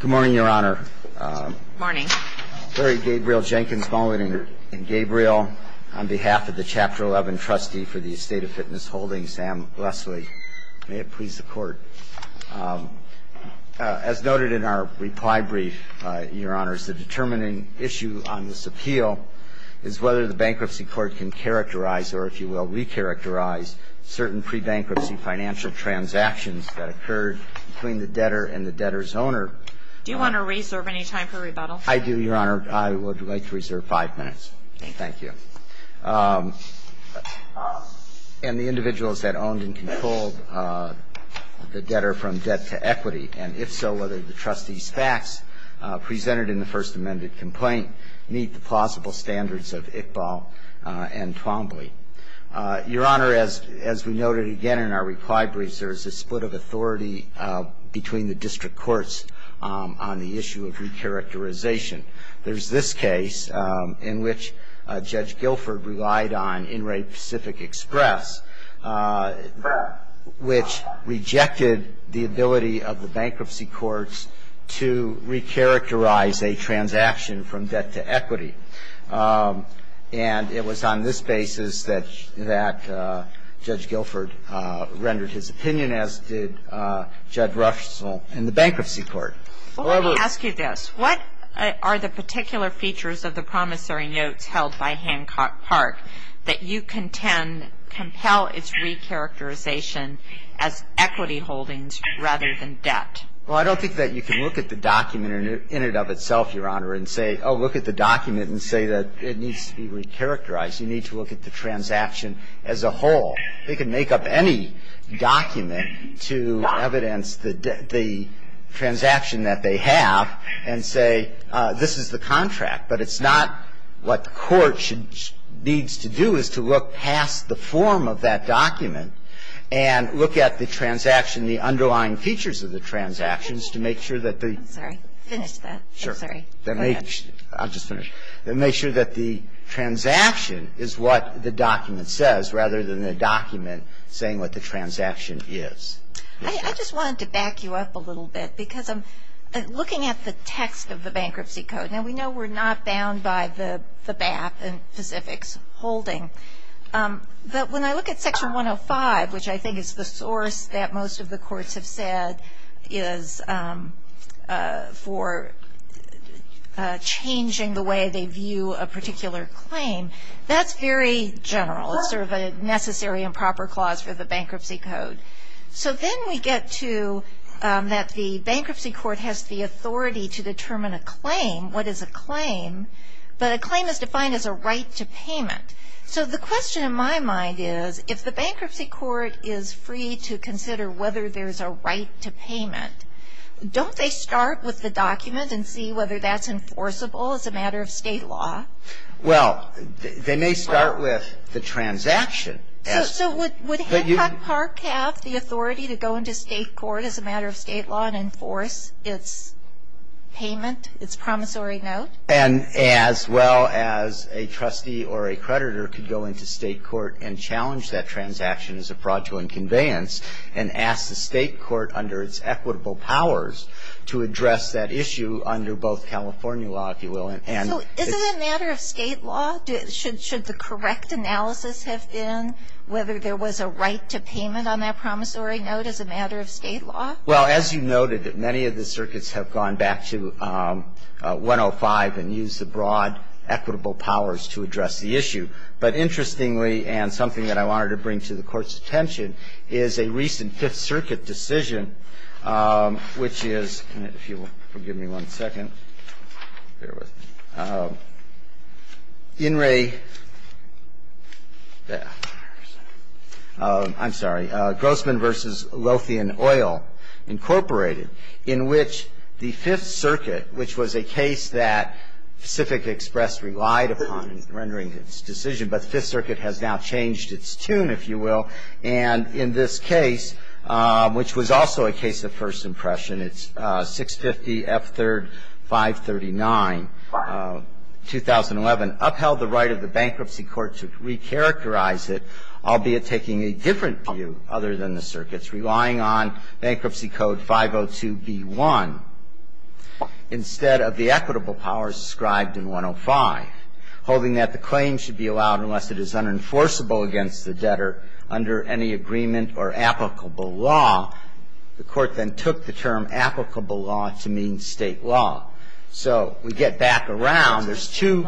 Good morning, Your Honor. Good morning. Larry Gabriel Jenkins, Mullin & Gabriel, on behalf of the Chapter 11 trustee for the Estate of Fitness Holdings, Sam Leslie. May it please the Court. As noted in our reply brief, Your Honors, the determining issue on this appeal is whether the Bankruptcy Court can characterize or, if you will, recharacterize certain pre-bankruptcy financial transactions that occurred between the debtor and the debtor's owner. Do you want to reserve any time for rebuttal? I do, Your Honor. I would like to reserve five minutes. Thank you. And the individuals that owned and controlled the debtor from debt to equity, and if so, whether the trustee's facts presented in the First Amendment complaint meet the plausible standards of Iqbal and Twombly. Your Honor, as we noted again in our reply brief, there is a split of authority between the district courts on the issue of recharacterization. There is this case in which Judge Guilford relied on In-Rate Pacific Express, which rejected the ability of the Bankruptcy Courts to recharacterize a transaction from debt to equity. And it was on this basis that Judge Guilford rendered his opinion, as did Judge Ruffes in the Bankruptcy Court. Well, let me ask you this. What are the particular features of the promissory notes held by Hancock Park that you contend compel its recharacterization as equity holdings rather than debt? Well, I don't think that you can look at the document in and of itself, Your Honor, and say, oh, look at the document and say that it needs to be recharacterized. You need to look at the transaction as a whole. They can make up any document to evidence the transaction that they have and say, this is the contract, but it's not what the court should needs to do is to look past the form of that document and look at the transaction, the underlying features of the transactions to make sure that the --. I'm sorry. Finish that. I'm sorry. Go ahead. I'm just going to make sure that the transaction is what the document says rather than the document saying what the transaction is. I just wanted to back you up a little bit because I'm looking at the text of the Bankruptcy Code. Now, we know we're not bound by the BAP and Pacific's holding. But when I look at Section 105, which I think is the source that most of the courts have said is for changing the way they view a particular claim, that's very general. It's sort of a necessary and proper clause for the Bankruptcy Code. So then we get to that the bankruptcy court has the authority to determine a claim, what is a claim. But a claim is defined as a right to payment. So the question in my mind is if the bankruptcy court is free to consider whether there's a right to payment, don't they start with the document and see whether that's enforceable as a matter of state law? Well, they may start with the transaction. So would Hancock Park have the authority to go into state court as a matter of state law and enforce its payment, its promissory note? And as well as a trustee or a creditor could go into state court and challenge that state court under its equitable powers to address that issue under both California law, if you will. And so is it a matter of state law? Should the correct analysis have been whether there was a right to payment on that promissory note as a matter of state law? Well, as you noted, many of the circuits have gone back to 105 and used the broad equitable powers to address the issue. But interestingly, and something that I wanted to bring to the Court's attention, is a recent Fifth Circuit decision, which is, if you will forgive me one second, bear with me, In re, I'm sorry, Grossman v. Lothian Oil, Incorporated, in which the Fifth Circuit, which was a case that Pacific Express relied upon in rendering its decision, but Fifth Circuit has now changed its tune, if you will. And in this case, which was also a case of first impression, it's 650 F. 3rd, 539, 2011, upheld the right of the bankruptcy court to recharacterize it, albeit taking a different view other than the circuit's, relying on Bankruptcy Code 502B1 instead of the equitable powers described in 105. Holding that the claim should be allowed unless it is unenforceable against the debtor under any agreement or applicable law, the Court then took the term applicable law to mean state law. So we get back around. There's two.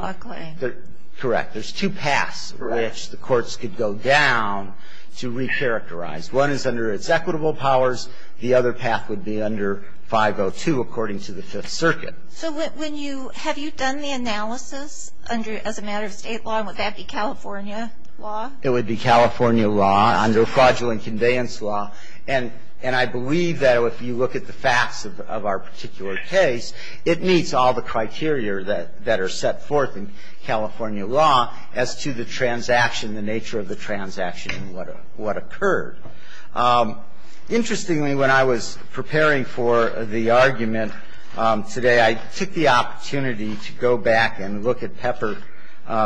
Correct. There's two paths which the courts could go down to recharacterize. One is under its equitable powers. The other path would be under 502, according to the Fifth Circuit. So when you, have you done the analysis under, as a matter of state law, and would that be California law? It would be California law, under fraudulent conveyance law. And I believe that if you look at the facts of our particular case, it meets all the criteria that are set forth in California law as to the transaction, the nature of the transaction and what occurred. Interestingly, when I was preparing for the argument today, I took the opportunity to go back and look at Pepper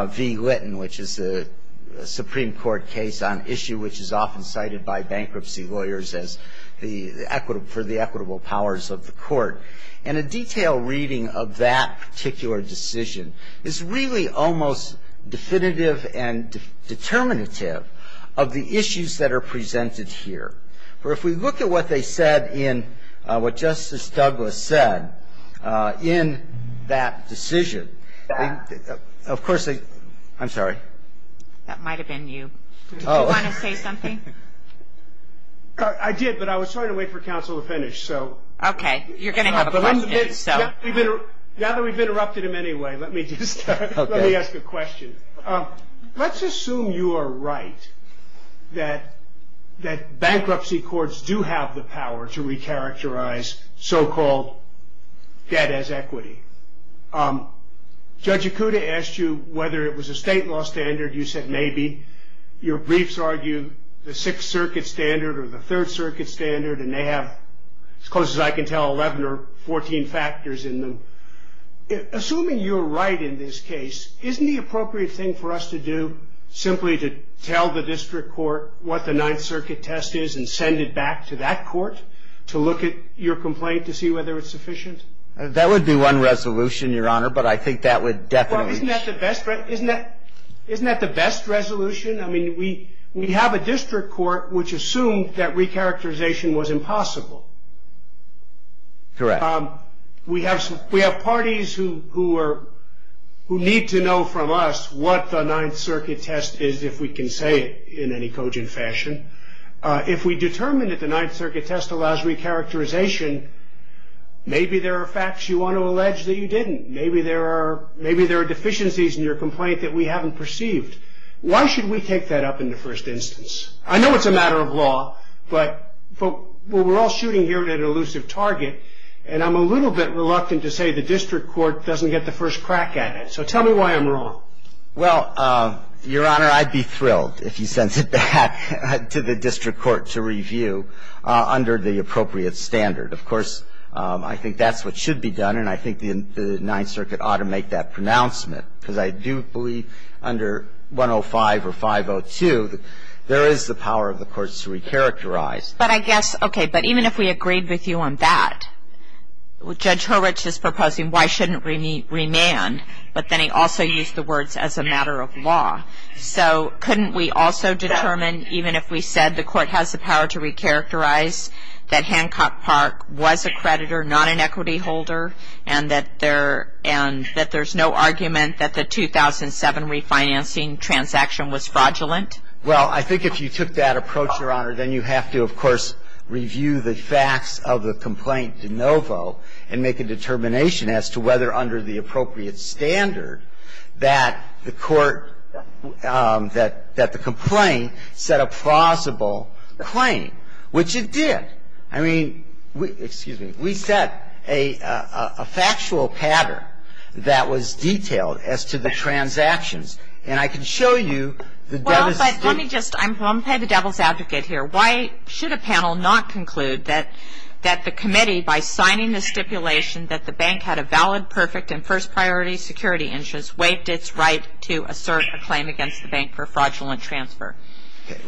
v. Litton, which is a Supreme Court case on issue which is often cited by bankruptcy lawyers as the equitable, for the equitable powers of the Court. And a detailed reading of that particular decision is really almost definitive and determinative of the issues that are presented here. For if we look at what they said in, what Justice Douglas said in that decision, of course they, I'm sorry. That might have been you. Oh. Did you want to say something? I did, but I was trying to wait for counsel to finish, so. Okay. You're going to have a question, so. Now that we've interrupted him anyway, let me just, let me ask a question. Let's assume you are right that bankruptcy courts do have the power to recharacterize so-called debt as equity. Judge Ikuda asked you whether it was a state law standard. You said maybe. Your briefs argue the Sixth Circuit standard or the Third Circuit standard, and they have, as close as I can tell, 11 or 14 factors in them. Assuming you're right in this case, isn't the appropriate thing for us to do, simply to tell the district court what the Ninth Circuit test is and send it back to that court to look at your complaint to see whether it's sufficient? That would be one resolution, Your Honor, but I think that would definitely. Well, isn't that the best, isn't that the best resolution? I mean, we have a district court which assumed that recharacterization was impossible. Correct. We have parties who need to know from us what the Ninth Circuit test is, if we can say it in any cogent fashion. If we determine that the Ninth Circuit test allows recharacterization, maybe there are facts you want to allege that you didn't. Maybe there are deficiencies in your complaint that we haven't perceived. Why should we take that up in the first instance? I know it's a matter of law, but we're all shooting here at an elusive target, and I'm a little bit reluctant to say the district court doesn't get the first crack at it. So tell me why I'm wrong. Well, Your Honor, I'd be thrilled if you sent it back to the district court to review under the appropriate standard. Of course, I think that's what should be done, and I think the Ninth Circuit ought to make that pronouncement, because I do believe under 105 or 502 there is the power of the courts to recharacterize. But I guess, okay, but even if we agreed with you on that, Judge Horwich is proposing why shouldn't we remand, but then he also used the words as a matter of law. So couldn't we also determine, even if we said the court has the power to recharacterize, that Hancock Park was a creditor, not an equity holder, and that there's no argument that the 2007 refinancing transaction was fraudulent? Well, I think if you took that approach, Your Honor, then you have to, of course, review the facts of the complaint de novo and make a determination as to whether under the appropriate standard that the court that the complaint set a plausible claim, which it did. I mean, excuse me. We set a factual pattern that was detailed as to the transactions. And I can show you the devil's stipulation. Well, but let me just. I'm going to play the devil's advocate here. Why should a panel not conclude that the committee, by signing the stipulation, that the bank had a valid, perfect, and first priority security interest, waived its right to assert a claim against the bank for fraudulent transfer?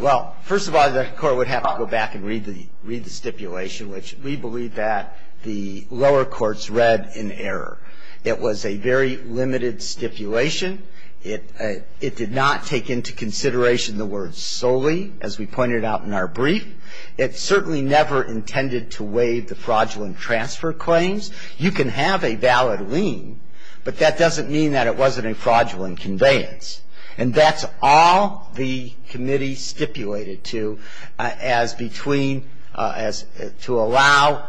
Well, first of all, the court would have to go back and read the stipulation, which we believe that the lower courts read in error. It was a very limited stipulation. It did not take into consideration the word solely, as we pointed out in our brief. It certainly never intended to waive the fraudulent transfer claims. You can have a valid lien, but that doesn't mean that it wasn't a fraudulent conveyance. And that's all the committee stipulated to as between as to allow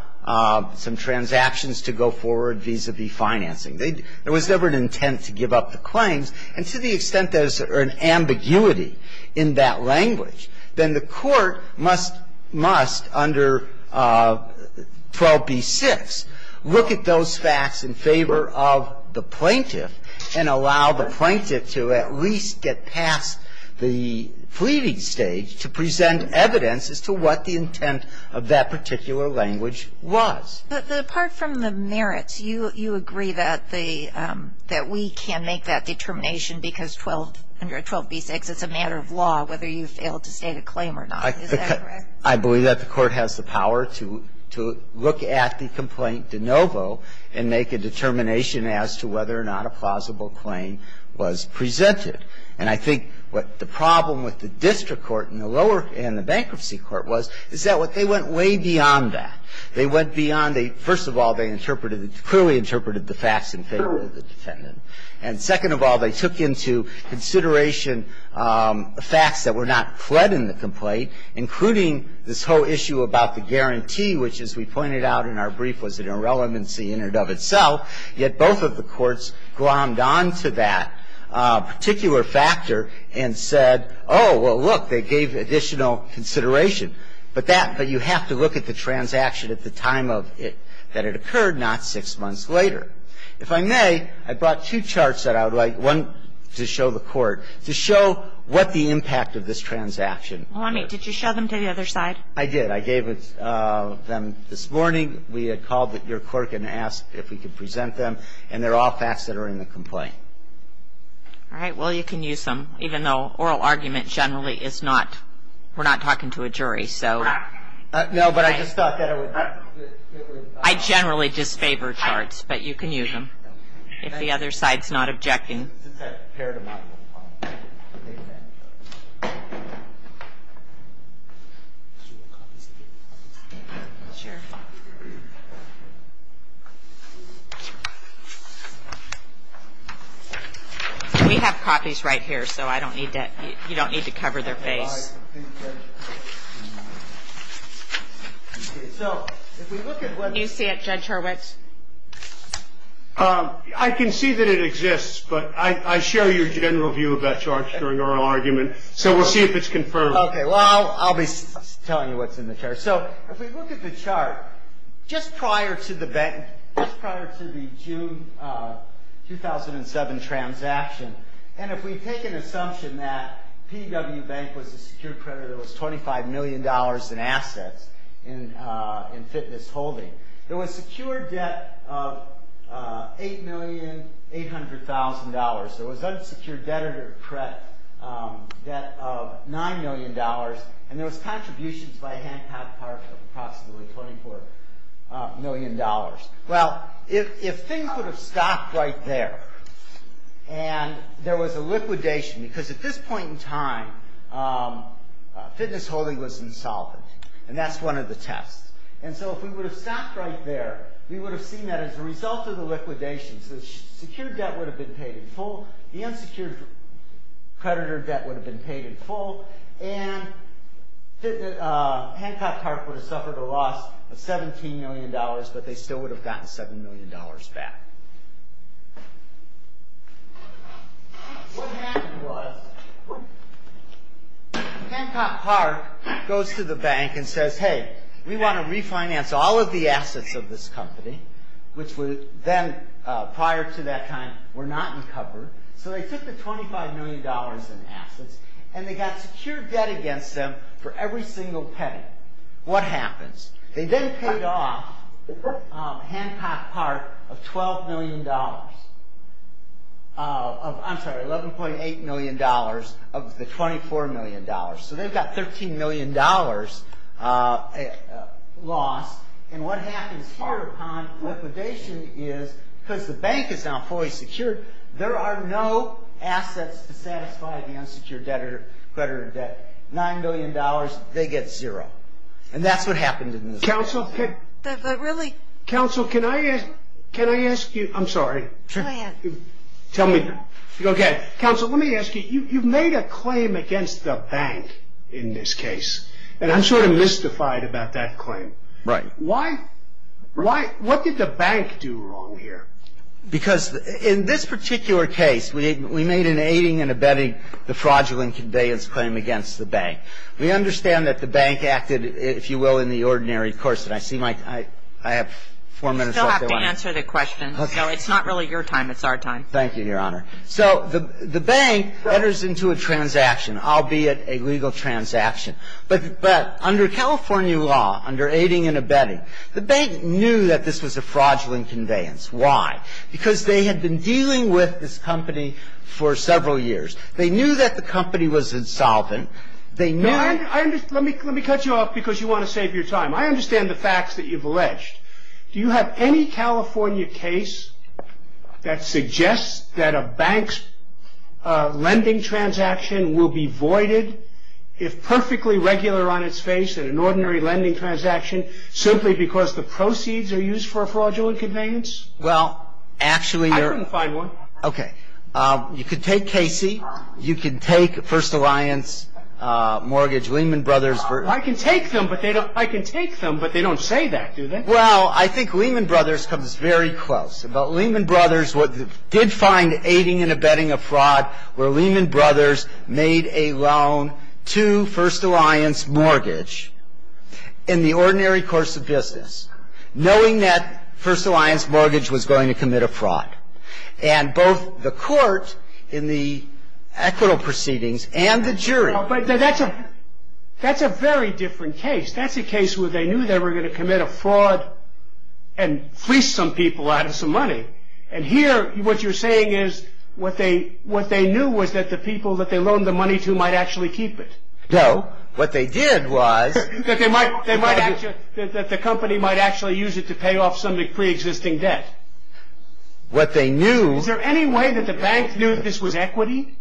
some transactions to go forward vis-à-vis financing. There was never an intent to give up the claims. And to the extent there's an ambiguity in that language, then the court must, must under 12b-6, look at those facts in favor of the plaintiff and allow the plaintiff to at least get past the fleeting stage to present evidence as to what the intent of that particular language was. But apart from the merits, you agree that the we can make that determination because 12b-6, it's a matter of law whether you fail to state a claim or not. Is that correct? I believe that the court has the power to look at the complaint de novo and make a determination as to whether or not a plausible claim was presented. And I think what the problem with the district court and the lower and the bankruptcy court was, is that they went way beyond that. They went beyond the, first of all, they interpreted, clearly interpreted the facts in favor of the defendant. And second of all, they took into consideration facts that were not fled in the complaint, including this whole issue about the guarantee, which, as we pointed out in our brief, was an irrelevancy in and of itself. Yet both of the courts glommed on to that particular factor and said, oh, well, look, they gave additional consideration. But that, but you have to look at the transaction at the time of it, that it occurred, not six months later. If I may, I brought two charts that I would like, one to show the court, to show what the impact of this transaction was. Did you show them to the other side? I did. I gave them this morning. We had called your court and asked if we could present them. And they're all facts that are in the complaint. All right. Well, you can use them, even though oral argument generally is not, we're not talking to a jury, so. No, but I just thought that it would. I generally disfavor charts, but you can use them if the other side is not objecting. We have copies right here, so I don't need to, you don't need to cover their face. Do you see it, Judge Hurwitz? I can see that it exists, but I share your general view about charts during oral argument, so we'll see if it's confirmed. Okay. Well, I'll be telling you what's in the chart. So, if we look at the chart, just prior to the bank, just prior to the June 2007 transaction, and if we take an assumption that PW Bank was a secure creditor, there was $25 million in assets in fitness holding. There was secure debt of $8,800,000. There was unsecure debt of $9 million, and there was contributions by Hancock Park of approximately $24 million. Well, if things would have stopped right there, and there was a liquidation, because at this point in time, fitness holding was insolvent, and that's one of the tests. And so, if we would have stopped right there, we would have seen that as a result of the liquidation, so the secure debt would have been paid in full, the unsecured creditor debt would have been paid in full, and Hancock Park would have suffered a loss of $17 million, but they still would have gotten $7 million back. What happened was, Hancock Park goes to the bank and says, hey, we want to refinance all of the assets of this company, which then, prior to that time, were not in cover, so they took the $25 million in assets, and they got secure debt against them for every single penny. What happens? They then paid off Hancock Park of $12 million. I'm sorry, $11.8 million of the $24 million. So they've got $13 million loss, and what happens here upon liquidation is, because the bank is now fully secured, there are no assets to satisfy the unsecured creditor debt. $9 million, they get zero. And that's what happened in this case. Counsel, can I ask you? I'm sorry. Go ahead. Counsel, let me ask you, you've made a claim against the bank in this case, and I'm sort of mystified about that claim. Right. What did the bank do wrong here? Because in this particular case, we made an aiding and abetting the fraudulent conveyance claim against the bank. We understand that the bank acted, if you will, in the ordinary course. I have four minutes left. I'm going to answer the question. So it's not really your time. It's our time. Thank you, Your Honor. So the bank enters into a transaction, albeit a legal transaction. But under California law, under aiding and abetting, the bank knew that this was a fraudulent conveyance. Why? Because they had been dealing with this company for several years. They knew that the company was insolvent. They knew that the company was insolvent. Let me cut you off because you want to save your time. I understand the facts that you've alleged. Do you have any California case that suggests that a bank's lending transaction will be voided if perfectly regular on its face in an ordinary lending transaction simply because the proceeds are used for a fraudulent conveyance? Well, actually, Your Honor. I couldn't find one. Okay. You can take Casey. You can take First Alliance Mortgage, Lehman Brothers. I can take them, but they don't say that, do they? Well, I think Lehman Brothers comes very close. But Lehman Brothers did find aiding and abetting a fraud where Lehman Brothers made a loan to First Alliance Mortgage in the ordinary course of business, knowing that First Alliance Mortgage was going to commit a fraud. And both the court in the equitable proceedings and the jury. But that's a very different case. That's a case where they knew they were going to commit a fraud and fleece some people out of some money. And here what you're saying is what they knew was that the people that they loaned the money to might actually keep it. No. What they did was... That the company might actually use it to pay off some of the preexisting debt. What they knew... Is there any way that the bank knew this was equity?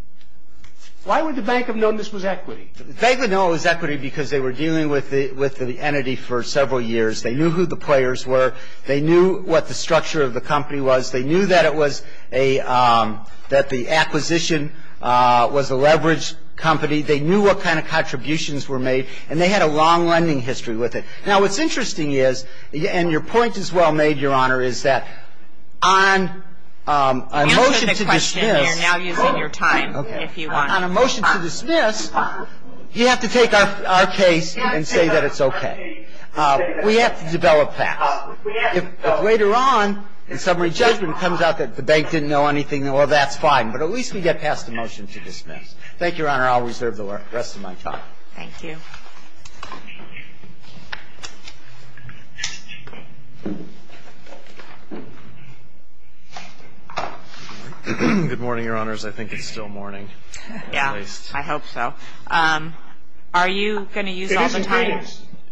Why would the bank have known this was equity? The bank would know it was equity because they were dealing with the entity for several years. They knew who the players were. They knew what the structure of the company was. They knew that it was a, that the acquisition was a leveraged company. They knew what kind of contributions were made. And they had a long lending history with it. Now, what's interesting is, and your point is well made, Your Honor, is that on a motion to dismiss... Answer the question. You're now using your time, if you want. On a motion to dismiss, you have to take our case and say that it's okay. We have to develop facts. If later on, in summary judgment, it comes out that the bank didn't know anything, well, that's fine. But at least we get past the motion to dismiss. Thank you, Your Honor. I'll reserve the rest of my time. Thank you. Good morning, Your Honors. I think it's still morning, at least. Yeah, I hope so. Are you going to use all the time,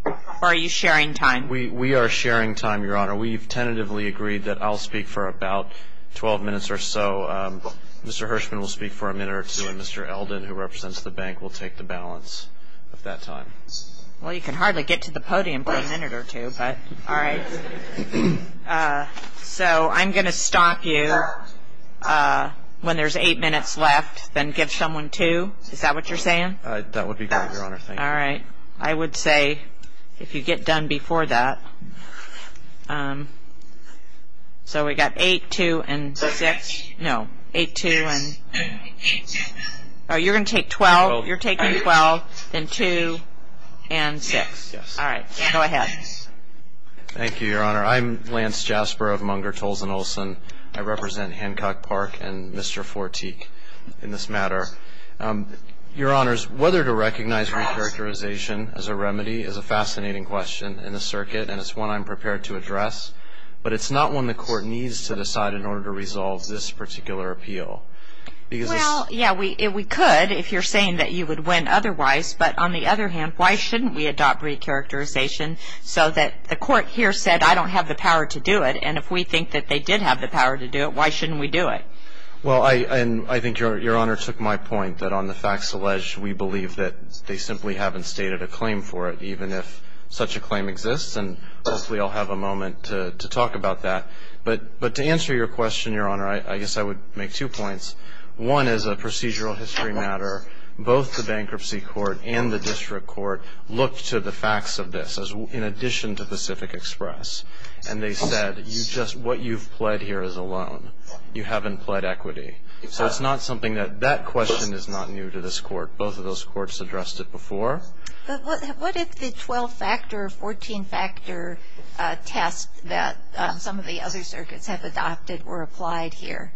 or are you sharing time? We are sharing time, Your Honor. We've tentatively agreed that I'll speak for about 12 minutes or so. Mr. Hirshman will speak for a minute or two, and Mr. Eldon, who represents the bank, will take the balance of that time. Well, you can hardly get to the podium for a minute or two, but all right. So I'm going to stop you when there's eight minutes left, then give someone two. Is that what you're saying? That would be great, Your Honor. Thank you. All right. I would say, if you get done before that. So we've got eight, two, and six. No, eight, two, and six. Oh, you're going to take 12. You're taking 12, then two, and six. Yes. All right. Go ahead. Thank you, Your Honor. I'm Lance Jasper of Munger, Tolleson, Olson. I represent Hancock Park and Mr. Fortique in this matter. Your Honors, whether to recognize recharacterization as a remedy is a fascinating question in the circuit, and it's one I'm prepared to address, but it's not one the Court needs to decide in order to resolve this particular appeal. Well, yeah, we could if you're saying that you would win otherwise, but on the other hand, why shouldn't we adopt recharacterization so that the Court here said, I don't have the power to do it, and if we think that they did have the power to do it, why shouldn't we do it? Well, I think Your Honor took my point that on the facts alleged, we believe that they simply haven't stated a claim for it, even if such a claim exists, and hopefully I'll have a moment to talk about that. But to answer your question, Your Honor, I guess I would make two points. One is a procedural history matter. Both the Bankruptcy Court and the District Court looked to the facts of this in addition to Pacific Express, and they said what you've pled here is a loan. You haven't pled equity. So it's not something that that question is not new to this Court. Both of those courts addressed it before. But what if the 12-factor, 14-factor test that some of the other circuits have adopted were applied here?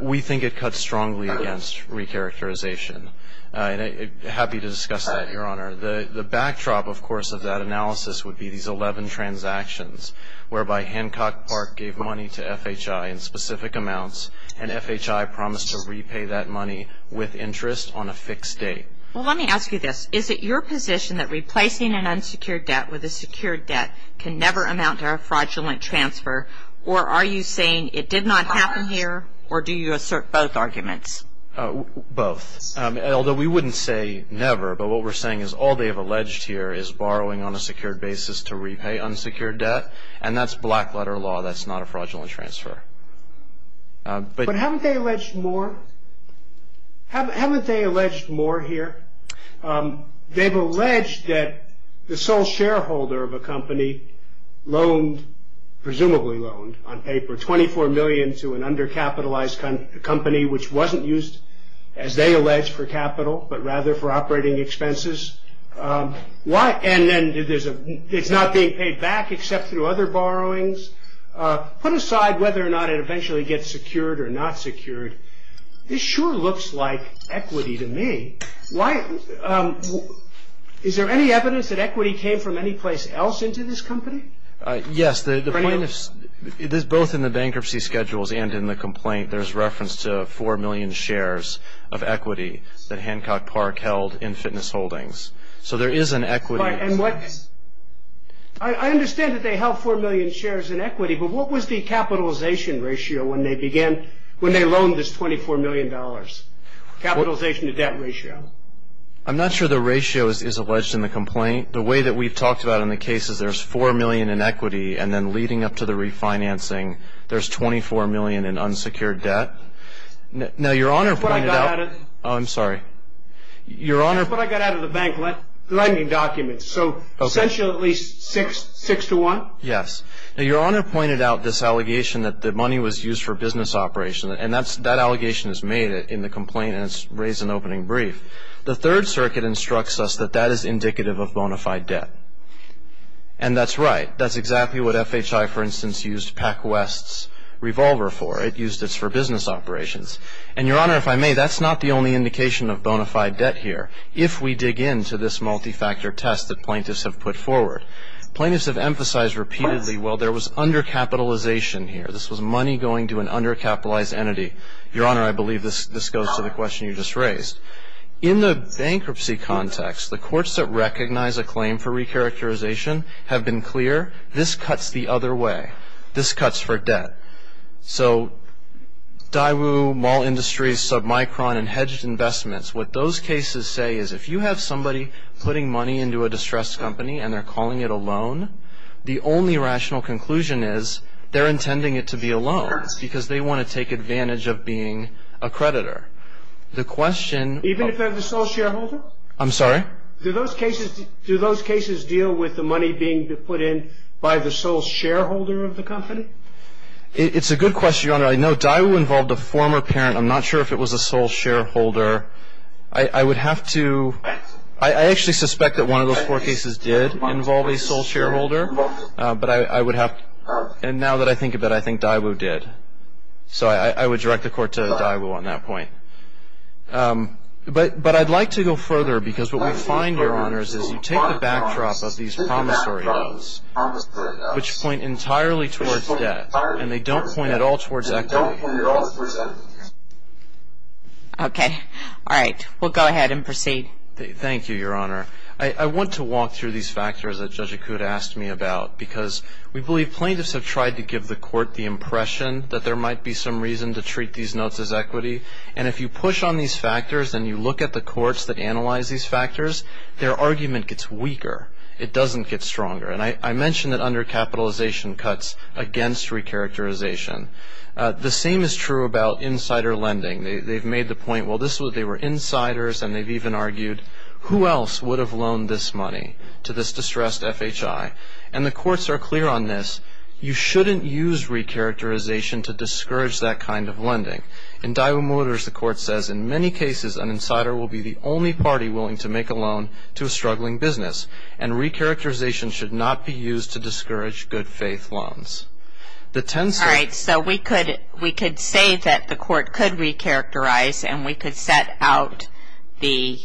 We think it cuts strongly against recharacterization. Happy to discuss that, Your Honor. The backdrop, of course, of that analysis would be these 11 transactions, whereby Hancock Park gave money to FHI in specific amounts, and FHI promised to repay that money with interest on a fixed date. Well, let me ask you this. Is it your position that replacing an unsecured debt with a secured debt can never amount to a fraudulent transfer, or are you saying it did not happen here, or do you assert both arguments? Both. Although we wouldn't say never, but what we're saying is all they have alleged here is borrowing on a secured basis to repay unsecured debt, and that's black-letter law. That's not a fraudulent transfer. But haven't they alleged more? Haven't they alleged more here? They've alleged that the sole shareholder of a company loaned, presumably loaned on paper, $24 million to an undercapitalized company which wasn't used, as they allege, for capital, but rather for operating expenses. And then it's not being paid back except through other borrowings. Put aside whether or not it eventually gets secured or not secured. This sure looks like equity to me. Is there any evidence that equity came from any place else into this company? Yes. Both in the bankruptcy schedules and in the complaint, there's reference to 4 million shares of equity that Hancock Park held in fitness holdings. So there is an equity. I understand that they held 4 million shares in equity, but what was the capitalization ratio when they began, when they loaned this $24 million? Capitalization to debt ratio. I'm not sure the ratio is alleged in the complaint. The way that we've talked about in the case is there's 4 million in equity, and then leading up to the refinancing, there's 24 million in unsecured debt. Now, Your Honor pointed out. Oh, I'm sorry. That's what I got out of the bank, lending documents. So essentially 6 to 1? Yes. Now, Your Honor pointed out this allegation that the money was used for business operation, and that allegation is made in the complaint, and it's raised in the opening brief. The Third Circuit instructs us that that is indicative of bona fide debt. And that's right. That's exactly what FHI, for instance, used PacWest's revolver for. It used it for business operations. And, Your Honor, if I may, that's not the only indication of bona fide debt here. If we dig into this multi-factor test that plaintiffs have put forward, plaintiffs have emphasized repeatedly, well, there was undercapitalization here. This was money going to an undercapitalized entity. Your Honor, I believe this goes to the question you just raised. In the bankruptcy context, the courts that recognize a claim for recharacterization have been clear. This cuts the other way. This cuts for debt. So Daewoo, Mall Industries, Submicron, and Hedged Investments, what those cases say is if you have somebody putting money into a distressed company and they're calling it a loan, the only rational conclusion is they're intending it to be a loan because they want to take advantage of being a creditor. The question of the sole shareholder. I'm sorry? Do those cases deal with the money being put in by the sole shareholder of the company? It's a good question, Your Honor. I know Daewoo involved a former parent. I'm not sure if it was a sole shareholder. I would have to – I actually suspect that one of those four cases did involve a sole shareholder. But I would have – and now that I think of it, I think Daewoo did. So I would direct the court to Daewoo on that point. But I'd like to go further because what we find, Your Honors, is you take the backdrop of these promissory notes, which point entirely towards debt, and they don't point at all towards equity. Okay. All right. We'll go ahead and proceed. Thank you, Your Honor. I want to walk through these factors that Judge Akud asked me about because we believe plaintiffs have tried to give the court the impression that there might be some reason to treat these notes as equity. And if you push on these factors and you look at the courts that analyze these factors, their argument gets weaker. It doesn't get stronger. And I mentioned that undercapitalization cuts against recharacterization. The same is true about insider lending. They've made the point, well, they were insiders, and they've even argued, who else would have loaned this money to this distressed FHI? And the courts are clear on this. You shouldn't use recharacterization to discourage that kind of lending. In Daewoo Motors, the court says, in many cases an insider will be the only party willing to make a loan to a struggling business. And recharacterization should not be used to discourage good-faith loans. All right, so we could say that the court could recharacterize and we could set out the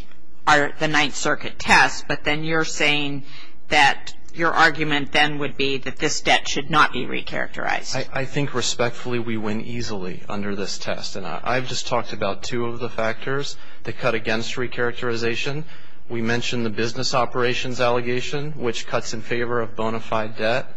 Ninth Circuit test, but then you're saying that your argument then would be that this debt should not be recharacterized. I think respectfully we win easily under this test. And I've just talked about two of the factors that cut against recharacterization. We mentioned the business operations allegation, which cuts in favor of bona fide debt.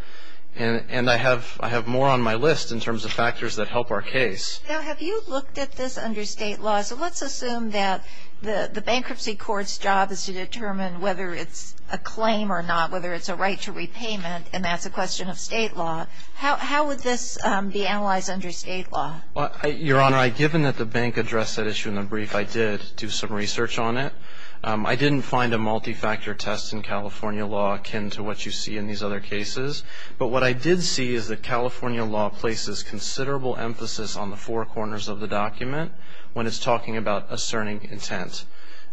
And I have more on my list in terms of factors that help our case. Now, have you looked at this under state law? So let's assume that the bankruptcy court's job is to determine whether it's a claim or not, whether it's a right to repayment, and that's a question of state law. How would this be analyzed under state law? Your Honor, given that the bank addressed that issue in the brief, I did do some research on it. I didn't find a multi-factor test in California law akin to what you see in these other cases. But what I did see is that California law places considerable emphasis on the four corners of the document when it's talking about asserting intent.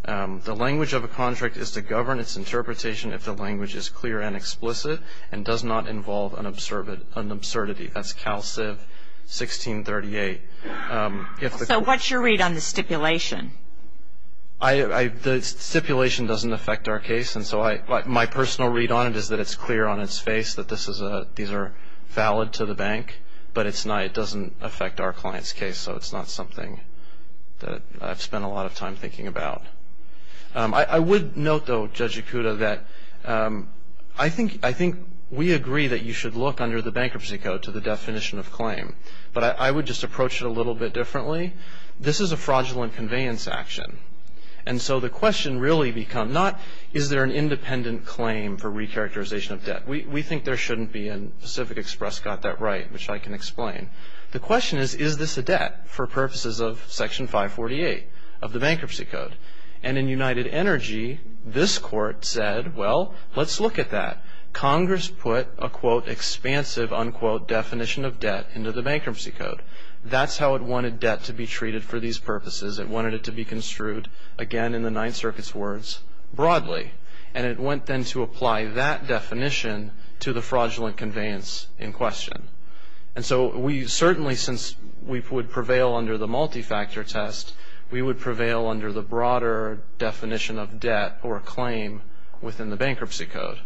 The language of a contract is to govern its interpretation if the language is clear and explicit and does not involve an absurdity. That's CalCiv 1638. So what's your read on the stipulation? The stipulation doesn't affect our case. And so my personal read on it is that it's clear on its face that these are valid to the bank, but it doesn't affect our client's case. So it's not something that I've spent a lot of time thinking about. I would note, though, Judge Yakuta, that I think we agree that you should look under the bankruptcy code to the definition of claim, but I would just approach it a little bit differently. This is a fraudulent conveyance action. And so the question really becomes not is there an independent claim for recharacterization of debt. We think there shouldn't be, and Pacific Express got that right, which I can explain. The question is, is this a debt for purposes of Section 548 of the bankruptcy code? And in United Energy, this court said, well, let's look at that. Congress put a, quote, expansive, unquote, definition of debt into the bankruptcy code. That's how it wanted debt to be treated for these purposes. It wanted it to be construed, again, in the Ninth Circuit's words, broadly. And it went then to apply that definition to the fraudulent conveyance in question. And so we certainly, since we would prevail under the multi-factor test, we would prevail under the broader definition of debt or claim within the bankruptcy code.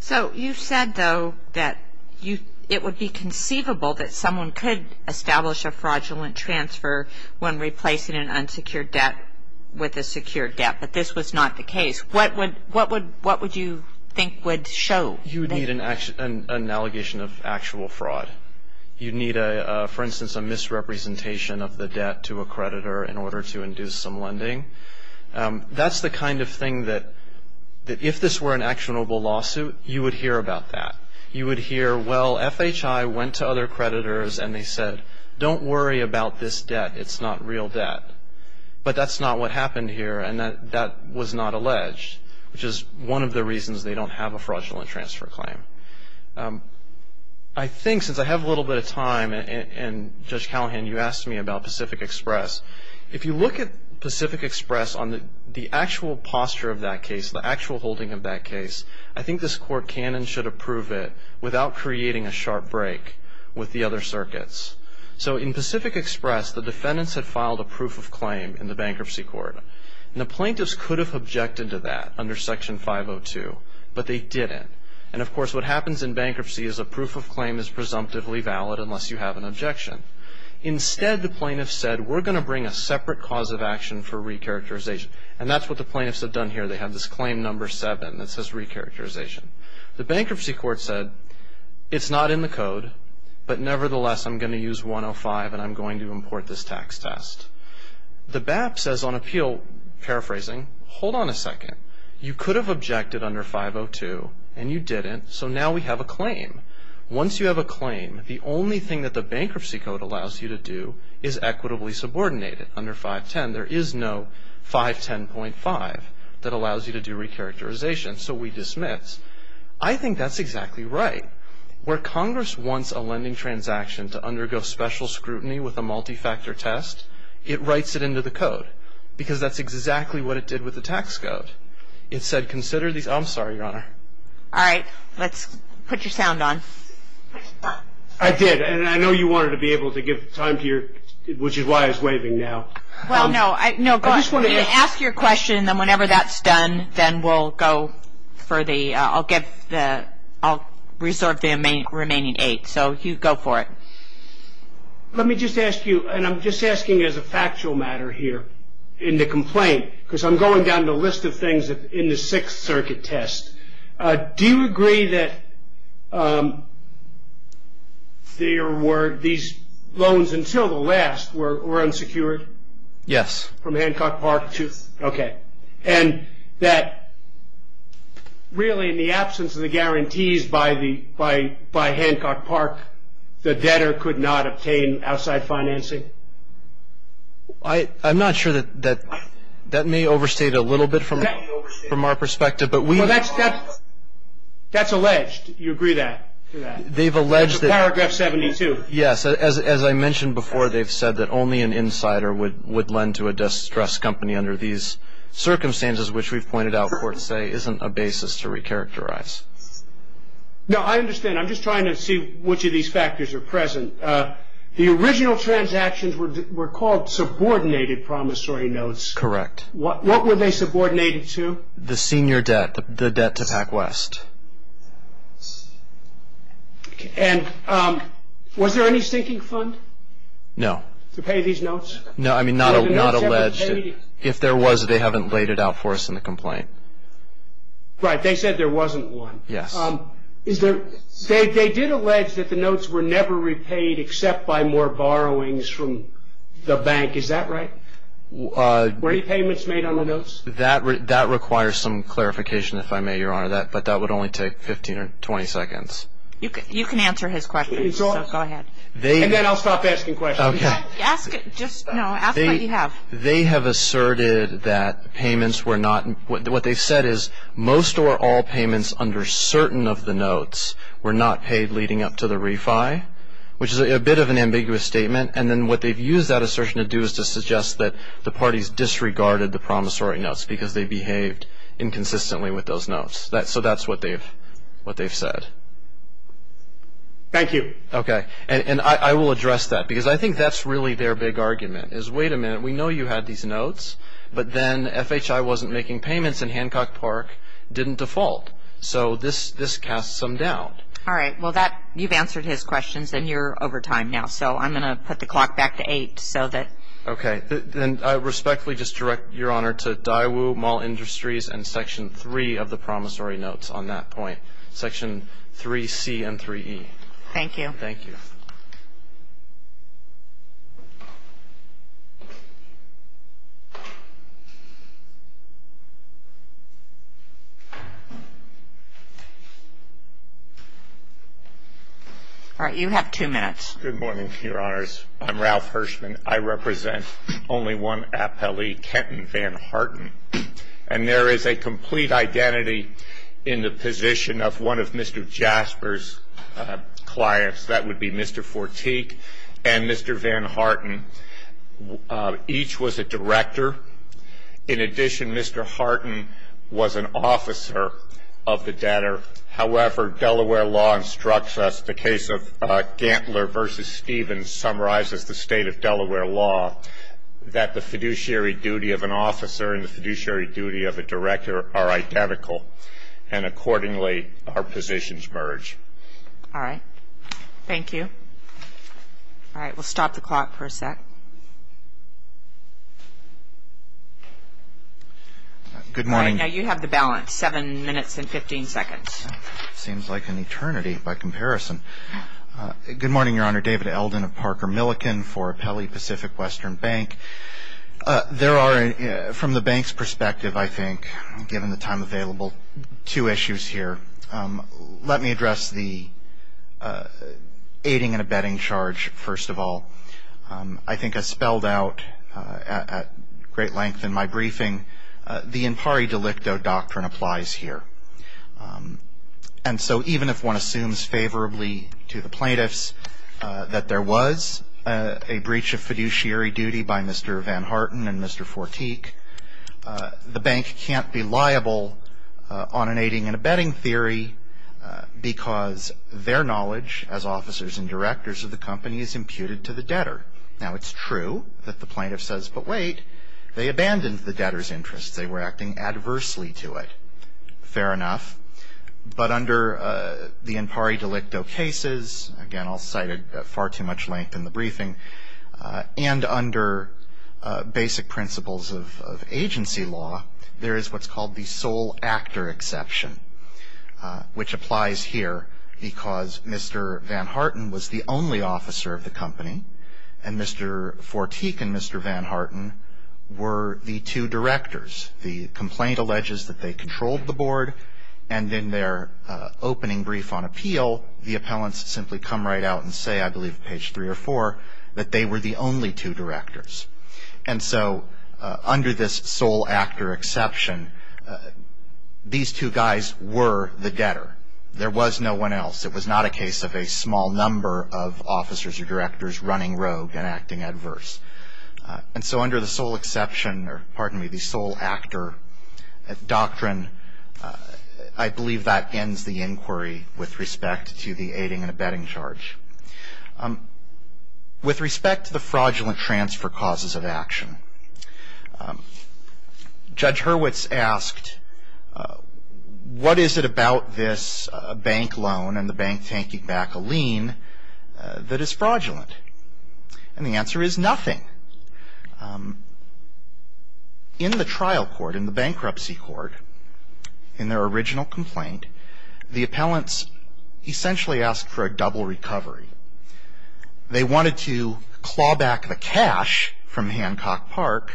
So you said, though, that it would be conceivable that someone could establish a fraudulent transfer when replacing an unsecured debt with a secured debt, but this was not the case. What would you think would show? You would need an allegation of actual fraud. You'd need, for instance, a misrepresentation of the debt to a creditor in order to induce some lending. That's the kind of thing that, if this were an actionable lawsuit, you would hear about that. You would hear, well, FHI went to other creditors, and they said, don't worry about this debt. It's not real debt. But that's not what happened here, and that was not alleged, which is one of the reasons they don't have a fraudulent transfer claim. I think, since I have a little bit of time, and Judge Callahan, you asked me about Pacific Express, if you look at Pacific Express on the actual posture of that case, the actual holding of that case, I think this court can and should approve it without creating a sharp break with the other circuits. So in Pacific Express, the defendants had filed a proof of claim in the bankruptcy court, and the plaintiffs could have objected to that under Section 502, but they didn't. And, of course, what happens in bankruptcy is a proof of claim is presumptively valid unless you have an objection. Instead, the plaintiffs said, we're going to bring a separate cause of action for recharacterization, and that's what the plaintiffs have done here. They have this claim number seven that says recharacterization. The bankruptcy court said, it's not in the code, but nevertheless, I'm going to use 105, and I'm going to import this tax test. The BAP says on appeal, paraphrasing, hold on a second. You could have objected under 502, and you didn't, so now we have a claim. Once you have a claim, the only thing that the bankruptcy code allows you to do is equitably subordinate it. Under 510, there is no 510.5 that allows you to do recharacterization, so we dismiss. I think that's exactly right. Where Congress wants a lending transaction to undergo special scrutiny with a multi-factor test, it writes it into the code because that's exactly what it did with the tax code. It said, consider these. I'm sorry, Your Honor. All right. Let's put your sound on. I did, and I know you wanted to be able to give time to your, which is why I was waving now. Well, no, go ahead. Ask your question, and then whenever that's done, then we'll go for the, I'll reserve the remaining eight, so go for it. Let me just ask you, and I'm just asking as a factual matter here in the complaint, because I'm going down the list of things in the Sixth Circuit test. Do you agree that there were, these loans until the last were unsecured? Yes. From Hancock Park to? Yes. Okay. And that really in the absence of the guarantees by Hancock Park, the debtor could not obtain outside financing? I'm not sure that, that may overstate a little bit from our perspective. Well, that's alleged. You agree to that? They've alleged that. It's paragraph 72. Yes. As I mentioned before, they've said that only an insider would lend to a distressed company under these circumstances, which we've pointed out courts say isn't a basis to recharacterize. Now, I understand. I'm just trying to see which of these factors are present. The original transactions were called subordinated promissory notes. Correct. What were they subordinated to? The senior debt, the debt to PacWest. And was there any sinking fund? No. To pay these notes? No, I mean, not alleged. If there was, they haven't laid it out for us in the complaint. Right. They said there wasn't one. Yes. They did allege that the notes were never repaid except by more borrowings from the bank. Is that right? Were any payments made on the notes? That requires some clarification, if I may, Your Honor. But that would only take 15 or 20 seconds. You can answer his question, so go ahead. And then I'll stop asking questions. Okay. Just, no, ask what you have. They have asserted that payments were not, what they've said is most or all payments under certain of the notes were not paid leading up to the refi, which is a bit of an ambiguous statement. And then what they've used that assertion to do is to suggest that the parties disregarded the promissory notes because they behaved inconsistently with those notes. So that's what they've said. Thank you. Okay. And I will address that because I think that's really their big argument is, wait a minute, we know you had these notes, but then FHI wasn't making payments and Hancock Park didn't default. So this casts some doubt. All right. Well, that, you've answered his questions and you're over time now. So I'm going to put the clock back to eight so that. Okay. Then I respectfully just direct Your Honor to Daewoo Mall Industries and Section 3 of the promissory notes on that point, Section 3C and 3E. Thank you. Thank you. All right. You have two minutes. Good morning, Your Honors. I'm Ralph Hirschman. I represent only one appellee, Kenton Van Harten, and there is a complete identity in the position of one of Mr. Jasper's clients. That would be Mr. Fortique and Mr. Van Harten. Each was a director. In addition, Mr. Harten was an officer of the debtor. However, Delaware law instructs us, the case of Gantler v. Stevens summarizes the state of Delaware law, that the fiduciary duty of an officer and the fiduciary duty of a director are identical, and accordingly, our positions merge. All right. Thank you. All right. We'll stop the clock for a sec. Good morning. Now you have the balance, 7 minutes and 15 seconds. It seems like an eternity by comparison. Good morning, Your Honor. David Eldon of Parker Millican for Appellee Pacific Western Bank. There are, from the bank's perspective, I think, given the time available, two issues here. Let me address the aiding and abetting charge, first of all. I think as spelled out at great length in my briefing, the impari delicto doctrine applies here. And so even if one assumes favorably to the plaintiffs that there was a breach of fiduciary duty by Mr. Van Harten and Mr. Fortique, the bank can't be liable on an aiding and abetting theory because their knowledge as officers and directors of the company is imputed to the debtor. Now it's true that the plaintiff says, but wait, they abandoned the debtor's interests. They were acting adversely to it. Fair enough. But under the impari delicto cases, again, I'll cite it at far too much length in the briefing, and under basic principles of agency law, there is what's called the sole actor exception, which applies here because Mr. Van Harten was the only officer of the company, and Mr. Fortique and Mr. Van Harten were the two directors. The complaint alleges that they controlled the board, and in their opening brief on appeal, the appellants simply come right out and say, I believe page three or four, that they were the only two directors. And so under this sole actor exception, these two guys were the debtor. There was no one else. It was not a case of a small number of officers or directors running rogue and acting adverse. And so under the sole exception, or pardon me, the sole actor doctrine, I believe that ends the inquiry with respect to the aiding and abetting charge. With respect to the fraudulent transfer causes of action, Judge Hurwitz asked, what is it about this bank loan and the bank taking back a lien that is fraudulent? And the answer is nothing. In the trial court, in the bankruptcy court, in their original complaint, the appellants essentially asked for a double recovery. They wanted to claw back the cash from Hancock Park,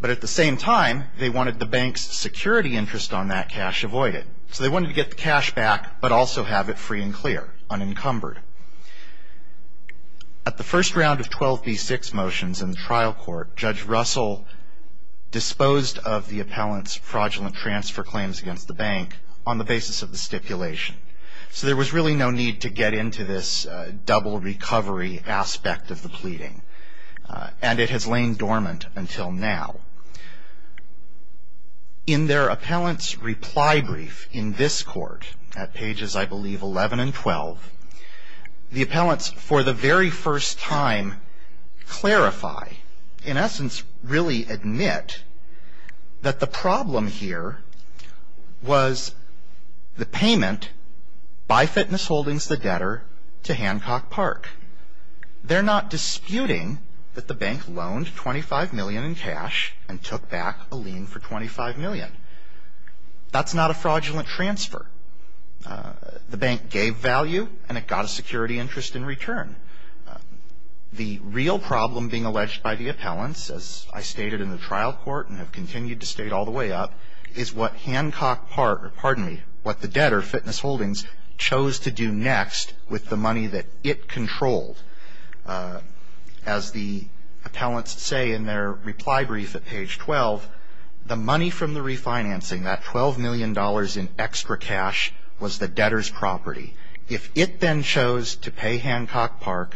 but at the same time, they wanted the bank's security interest on that cash avoided. So they wanted to get the cash back, but also have it free and clear, unencumbered. At the first round of 12B6 motions in the trial court, Judge Russell disposed of the appellant's fraudulent transfer claims against the bank on the basis of the stipulation. So there was really no need to get into this double recovery aspect of the pleading. And it has lain dormant until now. In their appellant's reply brief in this court, at pages, I believe, 11 and 12, the appellants, for the very first time, clarify, in essence, really admit that the problem here was the payment by Fitness Holdings, the debtor, to Hancock Park. They're not disputing that the bank loaned $25 million in cash and took back a lien for $25 million. That's not a fraudulent transfer. The bank gave value, and it got a security interest in return. The real problem being alleged by the appellants, as I stated in the trial court and have continued to state all the way up, is what Hancock Park, pardon me, what the debtor, Fitness Holdings, chose to do next with the money that it controlled. As the appellants say in their reply brief at page 12, the money from the refinancing, that $12 million in extra cash, was the debtor's property. If it then chose to pay Hancock Park,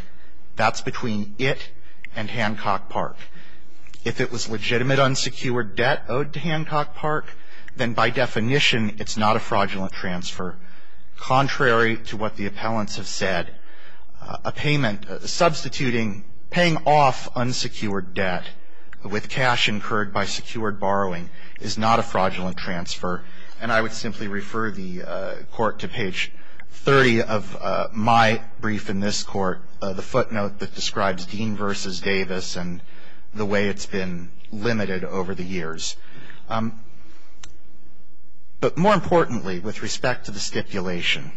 that's between it and Hancock Park. If it was legitimate unsecured debt owed to Hancock Park, then by definition it's not a fraudulent transfer. Contrary to what the appellants have said, a payment substituting paying off unsecured debt with cash incurred by secured borrowing is not a fraudulent transfer. And I would simply refer the court to page 30 of my brief in this court, the footnote that describes Dean v. Davis and the way it's been limited over the years. But more importantly, with respect to the stipulation,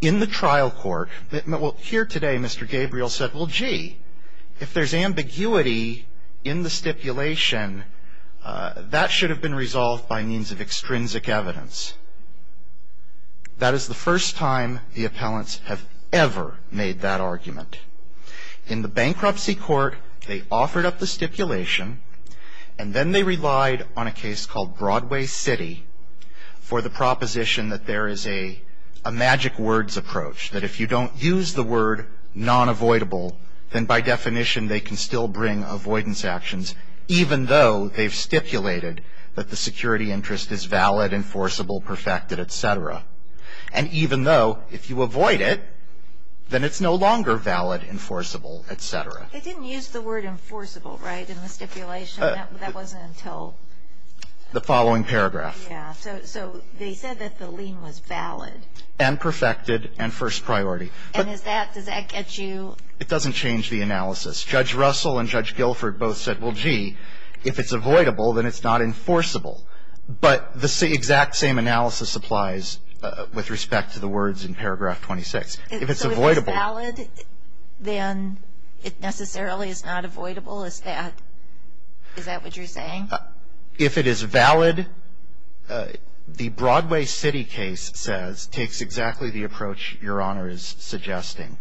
in the trial court, here today Mr. Gabriel said, well gee, if there's ambiguity in the stipulation, that should have been resolved by means of extrinsic evidence. That is the first time the appellants have ever made that argument. In the bankruptcy court, they offered up the stipulation, and then they relied on a case called Broadway City for the proposition that there is a magic words approach. That if you don't use the word non-avoidable, then by definition they can still bring avoidance actions. Even though they've stipulated that the security interest is valid, enforceable, perfected, etc. And even though if you avoid it, then it's no longer valid, enforceable, etc. They didn't use the word enforceable, right, in the stipulation? That wasn't until the following paragraph. Yeah. So they said that the lien was valid. And perfected and first priority. And does that get you? It doesn't change the analysis. Judge Russell and Judge Guilford both said, well gee, if it's avoidable then it's not enforceable. But the exact same analysis applies with respect to the words in paragraph 26. If it's avoidable. If it's valid, then it necessarily is not avoidable? Is that what you're saying? If it is valid, the Broadway City case says, takes exactly the approach Your Honor is suggesting.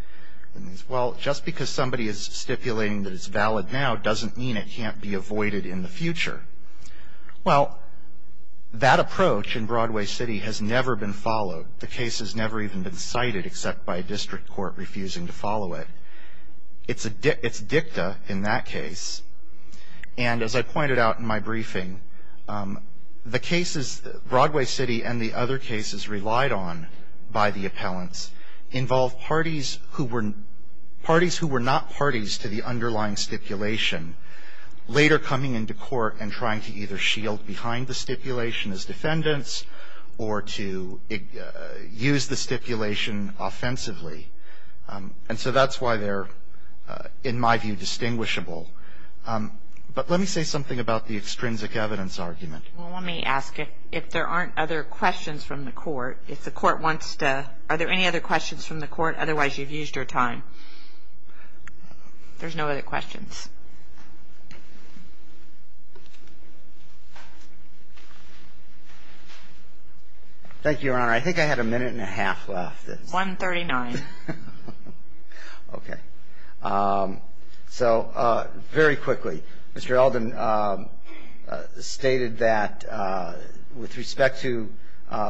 Well, just because somebody is stipulating that it's valid now, doesn't mean it can't be avoided in the future. Well, that approach in Broadway City has never been followed. The case has never even been cited except by a district court refusing to follow it. It's dicta in that case. And as I pointed out in my briefing, the cases, Broadway City and the other cases relied on by the appellants, involved parties who were not parties to the underlying stipulation, later coming into court and trying to either shield behind the stipulation as defendants or to use the stipulation offensively. And so that's why they're, in my view, distinguishable. But let me say something about the extrinsic evidence argument. Well, let me ask if there aren't other questions from the court. If the court wants to, are there any other questions from the court? Otherwise, you've used your time. There's no other questions. Thank you, Your Honor. I think I had a minute and a half left. One thirty-nine. Okay. So very quickly, Mr. Elden stated that with respect to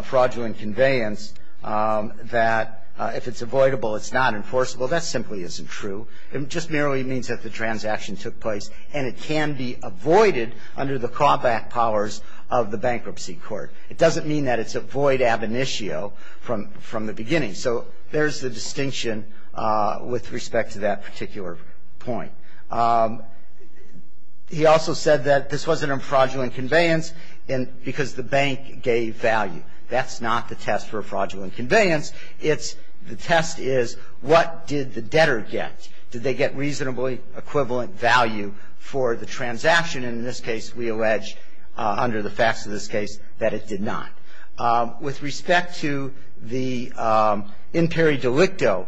fraudulent conveyance, that if it's avoidable, it's not enforceable. That simply isn't true. It just merely means that the transaction is fraudulent. And it can be avoided under the callback powers of the bankruptcy court. It doesn't mean that it's avoid ab initio from the beginning. So there's the distinction with respect to that particular point. He also said that this wasn't a fraudulent conveyance because the bank gave value. That's not the test for a fraudulent conveyance. The test is what did the debtor get? Did they get reasonably equivalent value for the transaction? And in this case, we allege, under the facts of this case, that it did not. With respect to the imperi delicto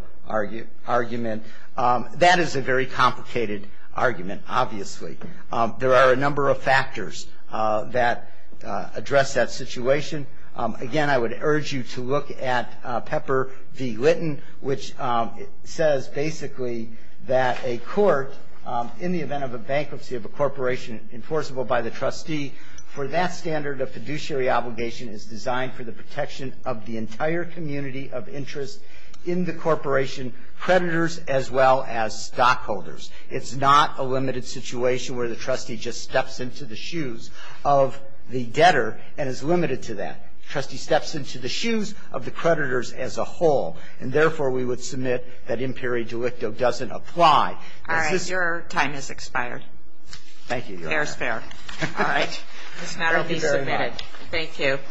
argument, that is a very complicated argument, obviously. There are a number of factors that address that situation. Again, I would urge you to look at Pepper v. Litton, which says basically that a court, in the event of a bankruptcy of a corporation, enforceable by the trustee, for that standard, a fiduciary obligation is designed for the protection of the entire community of interest in the corporation, creditors as well as stockholders. It's not a limited situation where the trustee just steps into the shoes of the debtor and is limited to that. The trustee steps into the shoes of the creditors as a whole, and therefore we would submit that imperi delicto doesn't apply. All right. Your time has expired. Thank you, Your Honor. All right. This matter will be submitted. Thank you very much. Thank you.